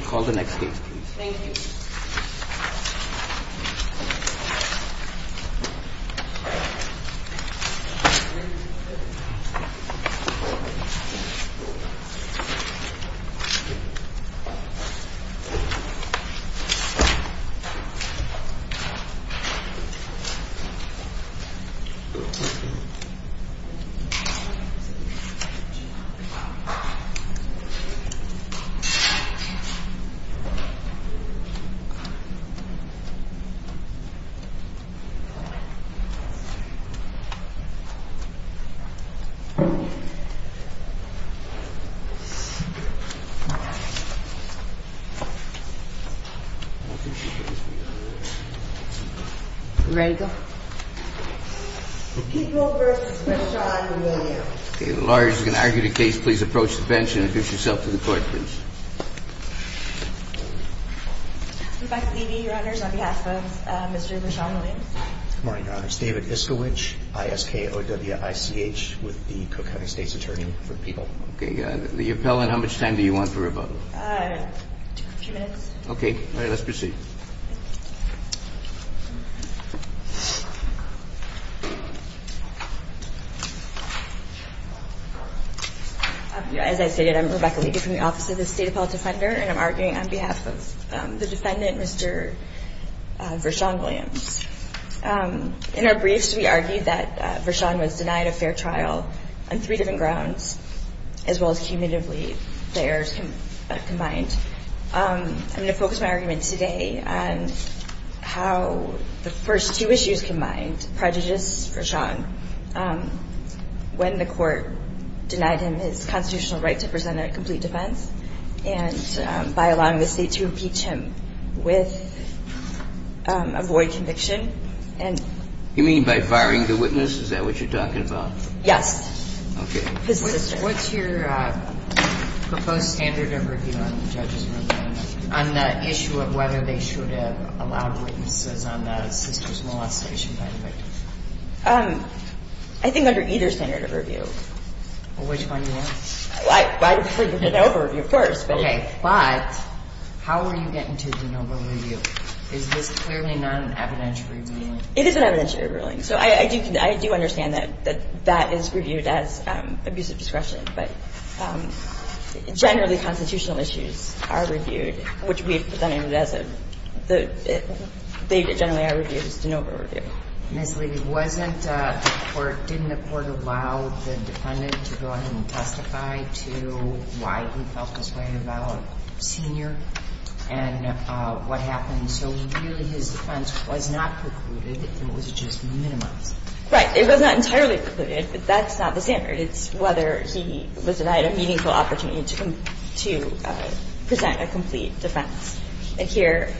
Call the next case please. Thank you. The floor is yours. Good morning, Your Honors. David Iskowich, ISKOWICH, with the Cook County State's Attorney for the People. Okay. The appellant, how much time do you want for rebuttal? A few minutes. Okay. All right. Let's proceed. As I stated, I'm Rebecca Levy from the Office of the State Appellant. I'm a federal defender, and I'm arguing on behalf of the defendant, Mr. Vershawn Williams. In our briefs, we argued that Vershawn was denied a fair trial on three different grounds, as well as cumulatively, the errors combined. I'm going to focus my argument today on how the first two issues combined prejudiced Vershawn when the court denied him his constitutional right to present a complete defense and by allowing the state to impeach him with a void conviction. You mean by firing the witness? Is that what you're talking about? Yes. Okay. His sister. What's your proposed standard of review on the judge's ruling on the issue of whether they should have allowed witnesses on the sister's molestation indictment? I think under either standard of review. Well, which one do you want? Well, I would prefer to get an overview, of course. Okay. But how are you getting to a de novo review? Is this clearly not an evidentiary ruling? It is an evidentiary ruling. So I do understand that that is reviewed as abusive discretion, but generally constitutional issues are reviewed, which we have presented as a – they generally are reviewed as de novo review. Ms. Lee, wasn't the court – didn't the court allow the defendant to go ahead and testify to why he felt this way about Senior and what happened? So really his defense was not precluded, it was just minimized. Right. It was not entirely precluded, but that's not the standard. It's whether he was denied a meaningful opportunity to present a complete defense. And here,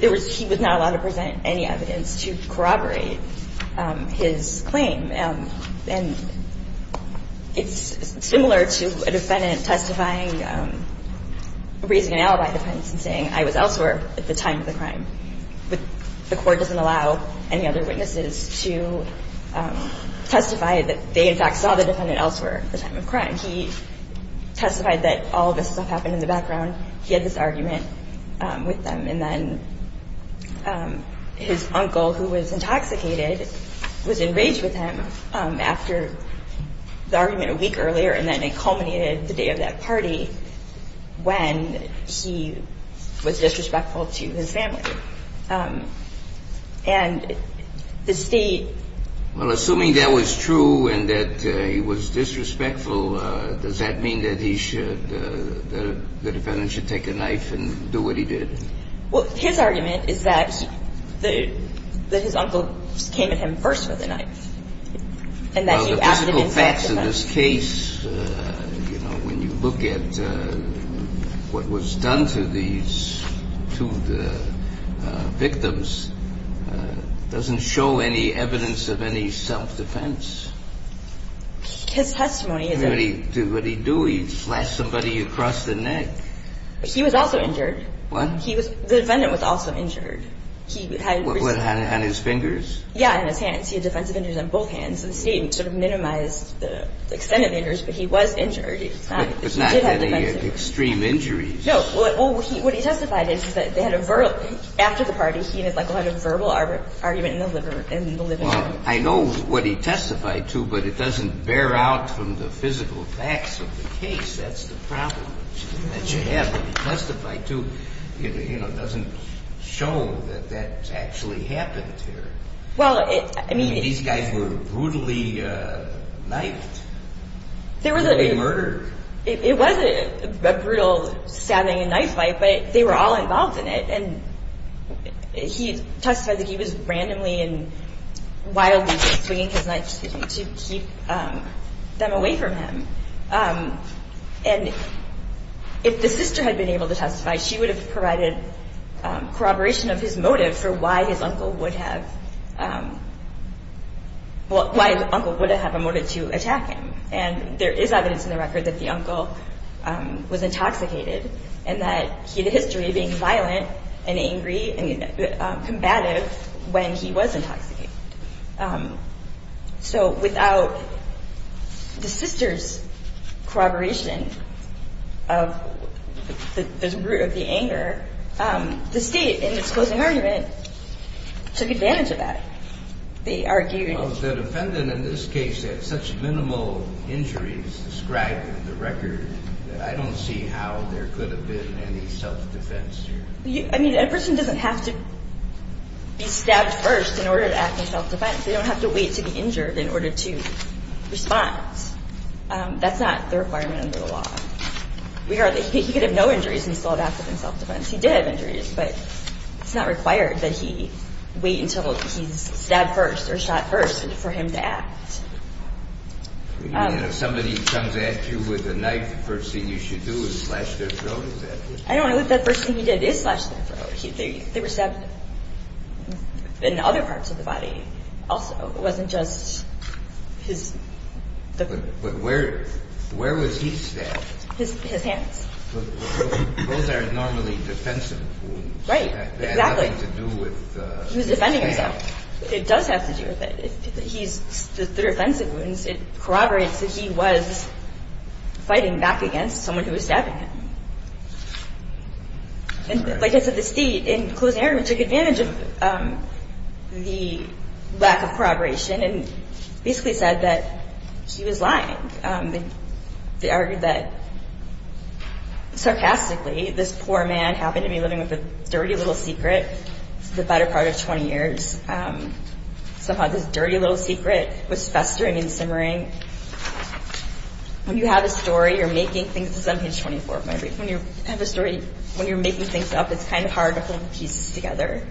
he was not allowed to present any evidence to corroborate his claim. And it's similar to a defendant testifying – raising an alibi defense and saying I was elsewhere at the time of the crime, but the court doesn't allow any other witnesses to testify that they, in fact, saw the defendant elsewhere at the time of the crime. He testified that all of this stuff happened in the background, he had this argument with them, and then his uncle, who was intoxicated, was enraged with him after the argument a week earlier, and then it culminated the day of that party when he was disrespectful to his family. And the state – Well, assuming that was true and that he was disrespectful, does that mean that he should – that the defendant should take a knife and do what he did? Well, his argument is that his uncle came at him first with a knife. Well, the physical facts of this case, you know, when you look at what was done to these two victims, doesn't show any evidence of any self-defense. His testimony is that – What did he do? He slashed somebody across the neck. He was also injured. What? He was – the defendant was also injured. He had – What, on his fingers? Yeah, on his hands. He had defensive injuries on both hands. The state sort of minimized the extent of injuries, but he was injured. He did have defensive injuries. But not any extreme injuries. No. Well, what he testified is that they had a – after the party, he and his uncle had a verbal argument in the living room. Well, I know what he testified to, but it doesn't bear out from the physical facts of the case. That's the problem that you have. What he testified to, you know, doesn't show that that actually happened here. Well, I mean – I mean, these guys were brutally knifed. There was a – Brutally murdered. It was a brutal stabbing and knife fight, but they were all involved in it. And he testified that he was randomly and wildly swinging his knife to keep them away from him. And if the sister had been able to testify, she would have provided corroboration of his motive for why his uncle would have – well, why his uncle would have a motive to attack him. And there is evidence in the record that the uncle was intoxicated and that he had a history of being violent and angry and combative when he was intoxicated. So without the sister's corroboration of the anger, the State, in its closing argument, took advantage of that. They argued – Well, if the defendant in this case had such minimal injuries described in the record, I don't see how there could have been any self-defense here. I mean, a person doesn't have to be stabbed first in order to act in self-defense. They don't have to wait to be injured in order to respond. That's not the requirement under the law. He could have no injuries and still have acted in self-defense. He did have injuries, but it's not required that he wait until he's stabbed first or shot first for him to act. You mean if somebody comes at you with a knife, the first thing you should do is slash their throat, is that it? I don't know if that first thing he did is slash their throat. They were stabbed in other parts of the body also. It wasn't just his – But where was he stabbed? His hands. Those aren't normally defensive wounds. Right, exactly. That had nothing to do with – He was defending himself. It does have to do with it. The defensive wounds, it corroborates that he was fighting back against someone who was stabbing him. Like I said, the state, in closing argument, took advantage of the lack of corroboration and basically said that he was lying. They argued that, sarcastically, this poor man happened to be living with a dirty little secret for the better part of 20 years. Somehow this dirty little secret was festering and simmering. When you have a story, you're making things – This is on page 24 of my brief. When you have a story, when you're making things up, it's kind of hard to hold the pieces together.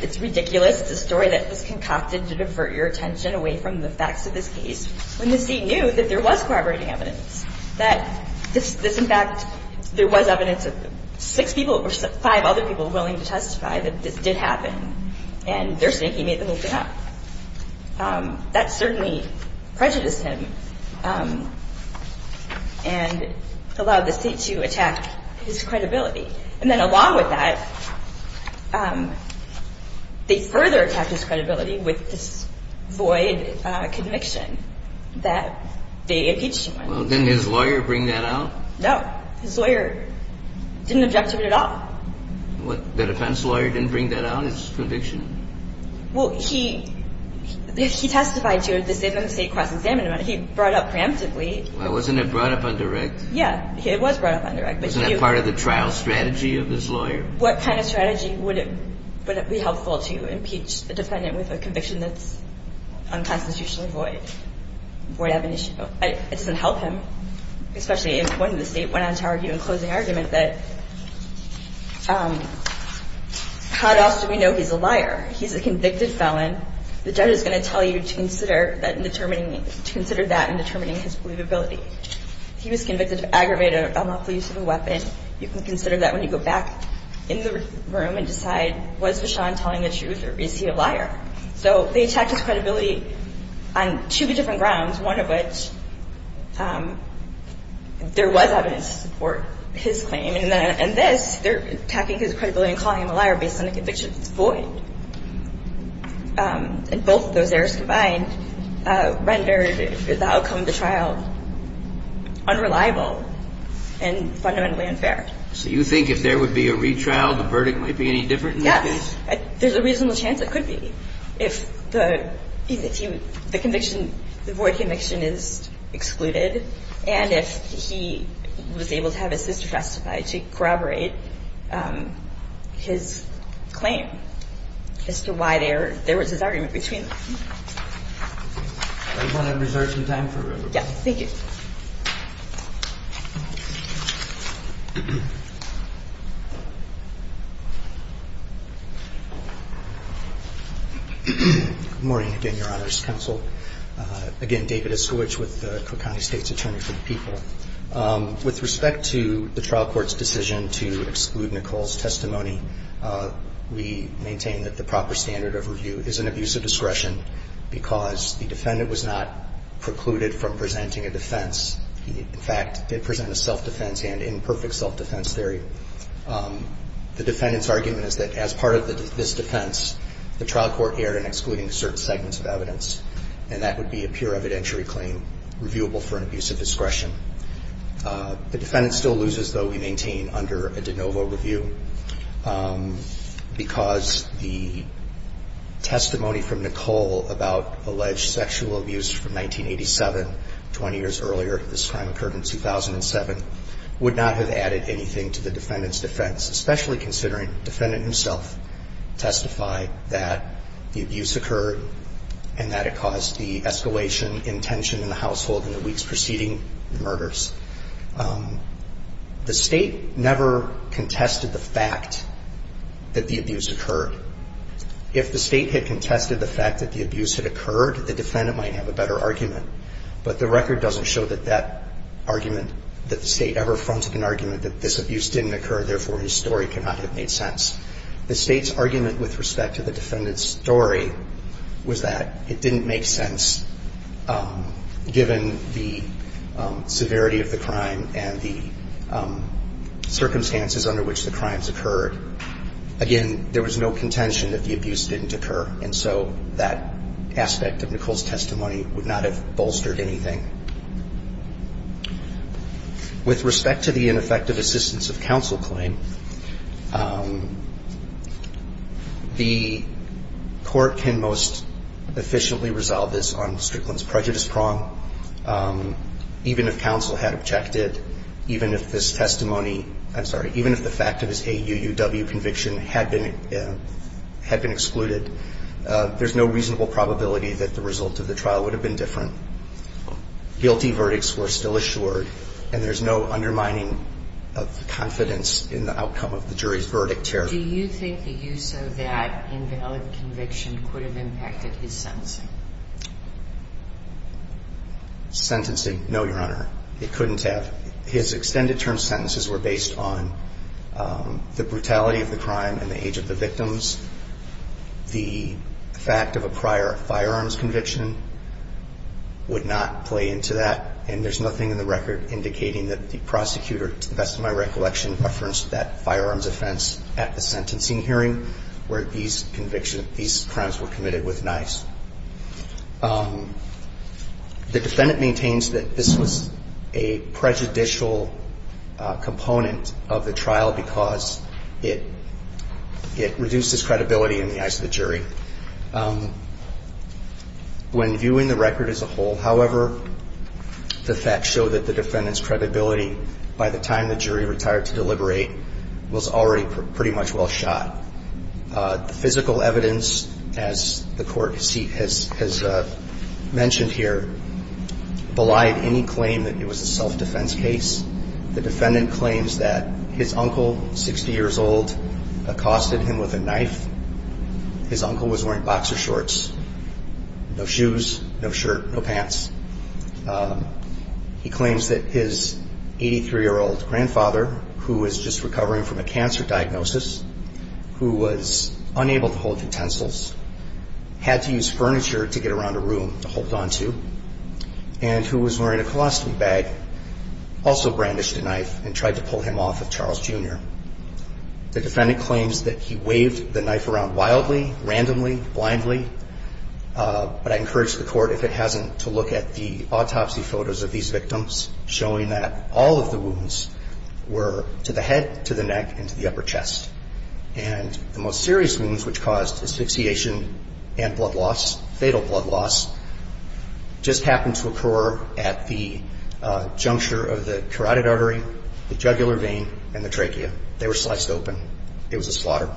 It's ridiculous. It's a story that was concocted to divert your attention away from the facts of this case when the state knew that there was corroborating evidence, that this, in fact, there was evidence of six people or five other people willing to testify that this did happen. And they're saying he made the whole thing up. That certainly prejudiced him and allowed the state to attack his credibility. And then along with that, they further attacked his credibility with this void conviction that they impeached him on. Well, didn't his lawyer bring that out? No. His lawyer didn't object to it at all. What, the defense lawyer didn't bring that out, his conviction? Well, he testified to it at the state cross-examination. He brought it up preemptively. Wasn't it brought up on direct? Yeah, it was brought up on direct. Wasn't that part of the trial strategy of his lawyer? What kind of strategy would it be helpful to impeach a defendant with a conviction that's unconstitutionally void? It doesn't help him, especially when the state went on to argue in closing argument that how else do we know he's a liar? He's a convicted felon. The judge is going to tell you to consider that in determining his believability. He was convicted of aggravated unlawful use of a weapon. You can consider that when you go back in the room and decide, was Vashon telling the truth or is he a liar? So they attacked his credibility on two different grounds, one of which there was evidence to support his claim. And this, they're attacking his credibility and calling him a liar based on a conviction that's void. And both of those errors combined rendered the outcome of the trial unreliable and fundamentally unfair. So you think if there would be a retrial, the verdict might be any different in this case? There's a reasonable chance it could be if the conviction, the void conviction is excluded, and if he was able to have his sister testify to corroborate his claim as to why there was this argument between them. Does everyone have reserved some time for review? Yes, thank you. Good morning again, Your Honor's Counsel. Again, David Iskowitz with the Cook County State's Attorney for the People. With respect to the trial court's decision to exclude Nicole's testimony, we maintain that the proper standard of review is an abuse of discretion because the defendant was not precluded from presenting a defense. In fact, they present a self-defense and imperfect self-defense theory. The defendant's argument is that as part of this defense, the trial court erred in excluding certain segments of evidence, and that would be a pure evidentiary claim reviewable for an abuse of discretion. The defendant still loses, though, we maintain, under a de novo review because the testimony from Nicole about alleged sexual abuse from 1987, 20 years earlier, this crime occurred in 2007, would not have added anything to the defendant's defense, especially considering the defendant himself testified that the abuse occurred and that it caused the escalation in tension in the household in the weeks preceding the murders. The State never contested the fact that the abuse occurred. If the State had contested the fact that the abuse had occurred, the defendant might have a better argument, but the record doesn't show that that argument, that the State ever fronted an argument that this abuse didn't occur, therefore, his story cannot have made sense. The State's argument with respect to the defendant's story was that it didn't make sense, given the severity of the crime and the circumstances under which the crimes occurred. Again, there was no contention that the abuse didn't occur, and so that aspect of Nicole's testimony would not have bolstered anything. With respect to the ineffective assistance of counsel claim, the Court can most efficiently resolve this on Strickland's prejudice prong. Even if counsel had objected, even if this testimony – I'm sorry, even if the fact of his AUUW conviction had been excluded, there's no reasonable probability that the result of the trial would have been different. Guilty verdicts were still assured, and there's no undermining of confidence in the outcome of the jury's verdict here. Do you think the use of that invalid conviction could have impacted his sentencing? Sentencing, no, Your Honor. It couldn't have. His extended-term sentences were based on the brutality of the crime and the age of the victims, the fact of a prior firearms conviction would not play into that, and there's nothing in the record indicating that the prosecutor, to the best of my recollection, referenced that firearms offense at the sentencing hearing where these crimes were committed with knives. The defendant maintains that this was a prejudicial component of the trial because it reduced his credibility in the eyes of the jury. When viewing the record as a whole, however, the facts show that the defendant's credibility by the time the jury retired to deliberate was already pretty much well shot. The physical evidence, as the Court has mentioned here, belied any claim that it was a self-defense case. The defendant claims that his uncle, 60 years old, accosted him with a knife. His uncle was wearing boxer shorts, no shoes, no shirt, no pants. He claims that his 83-year-old grandfather, who was just recovering from a cancer diagnosis, who was unable to hold utensils, had to use furniture to get around a room to hold on to, and who was wearing a colostomy bag, also brandished a knife and tried to pull him off of Charles Jr. The defendant claims that he waved the knife around wildly, randomly, blindly, but I encourage the Court, if it hasn't, to look at the autopsy photos of these victims showing that all of the wounds were to the head, to the neck, and to the upper chest. And the most serious wounds, which caused asphyxiation and blood loss, fatal blood loss, just happened to occur at the juncture of the carotid artery, the jugular vein, and the trachea. They were sliced open. It was a slaughter.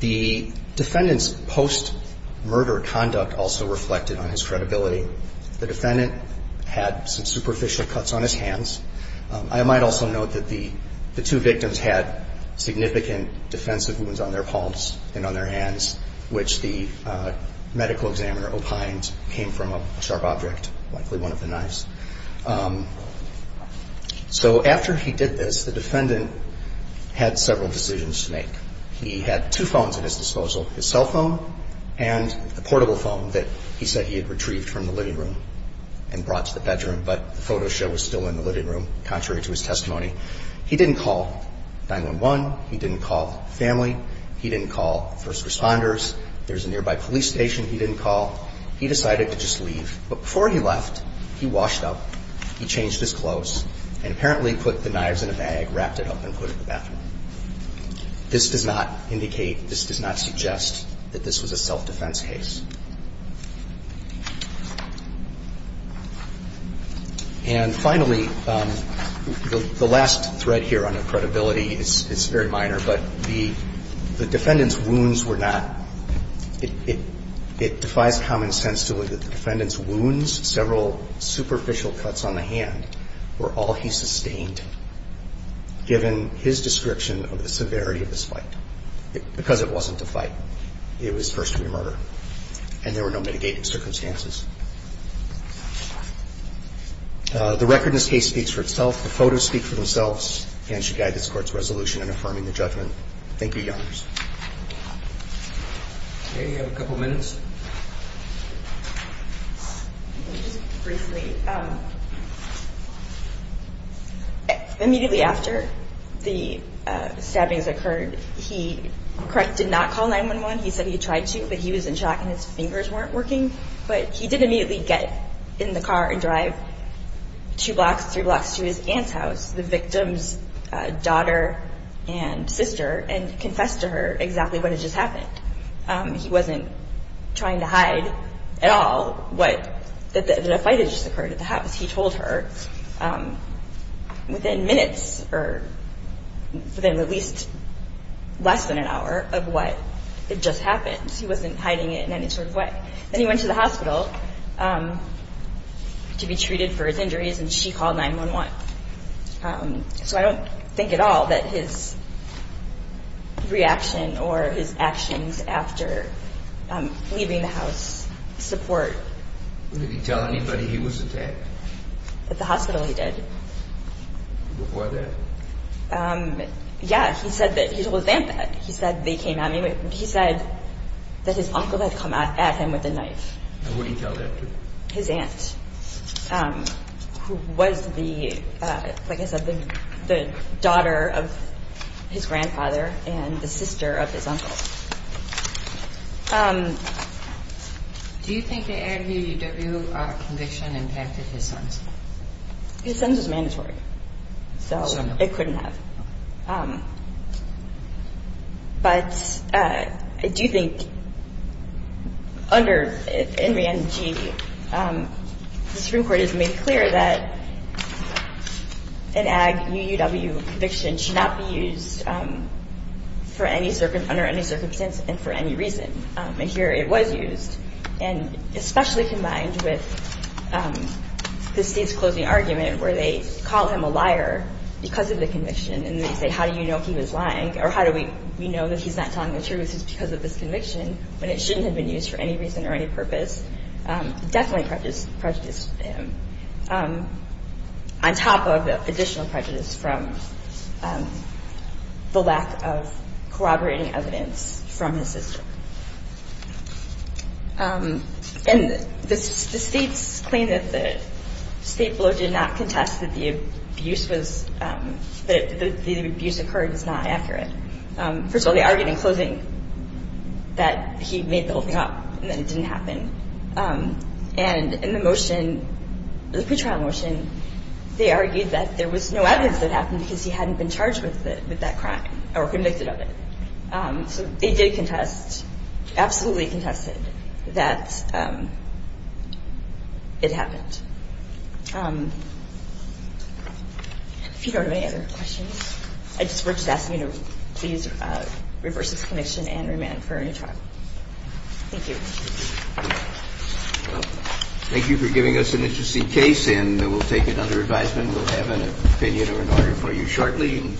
The defendant's post-murder conduct also reflected on his credibility. The defendant had some superficial cuts on his hands. I might also note that the two victims had significant defensive wounds on their palms and on their hands, which the medical examiner opined came from a sharp object, likely one of the knives. So after he did this, the defendant had several decisions to make. He had two phones at his disposal, his cell phone and the portable phone that he said he had retrieved from the living room and brought to the bedroom, but the photo show was still in the living room, contrary to his testimony. He didn't call 911. He didn't call family. He didn't call first responders. There's a nearby police station he didn't call. He decided to just leave. But before he left, he washed up, he changed his clothes, and apparently put the knives in a bag, wrapped it up, and put it in the bathroom. This does not indicate, this does not suggest that this was a self-defense case. And finally, the last thread here on credibility is very minor, but the defendant's wounds were not – it defies common sense to believe that the defendant's wounds, several superficial cuts on the hand, were all he sustained, given his description of the severity of this fight. Because it wasn't a fight. It was first-degree murder. And there were no mitigating circumstances. The record in this case speaks for itself. The photos speak for themselves, and should guide this Court's resolution in affirming the judgment. Thank you, Your Honors. Okay, you have a couple minutes. Just briefly, immediately after the stabbings occurred, he did not call 911. He said he tried to, but he was in shock and his fingers weren't working. But he did immediately get in the car and drive two blocks, three blocks to his aunt's house, the victim's daughter and sister, and confessed to her exactly what had just happened. He wasn't trying to hide at all that a fight had just occurred at the house. He told her within minutes, or within at least less than an hour, of what had just happened. He wasn't hiding it in any sort of way. Then he went to the hospital to be treated for his injuries, and she called 911. So I don't think at all that his reaction or his actions after leaving the house support... Did he tell anybody he was attacked? At the hospital he did. Before that? Yeah, he said that he told his aunt that. He said they came at me. He said that his uncle had come at him with a knife. And what did he tell that to? His aunt, who was, like I said, the daughter of his grandfather and the sister of his uncle. Do you think the Ag UUW conviction impacted his sons? His sons was mandatory, so it couldn't have. But I do think under NRENG, the Supreme Court has made clear that an Ag UUW conviction should not be used under any circumstance and for any reason. And here it was used, especially combined with the state's closing argument where they call him a liar because of the conviction and they say, how do we know he's not telling the truth because of this conviction when it shouldn't have been used for any reason or any purpose? It definitely prejudiced him, on top of additional prejudice from the lack of corroborating evidence from his sister. And the state's claim that the state blow did not contest that the abuse occurred is not accurate. First of all, they argued in closing that he made the whole thing up and that it didn't happen. And in the motion, the pretrial motion, they argued that there was no evidence that it happened because he hadn't been charged with that crime or convicted of it. So they did contest, absolutely contested, that it happened. If you don't have any other questions, I just would ask you to please reverse this conviction and remand for a new trial. Thank you. Thank you for giving us an interesting case and we'll take it under advisement. We'll have an opinion or an argument for you shortly.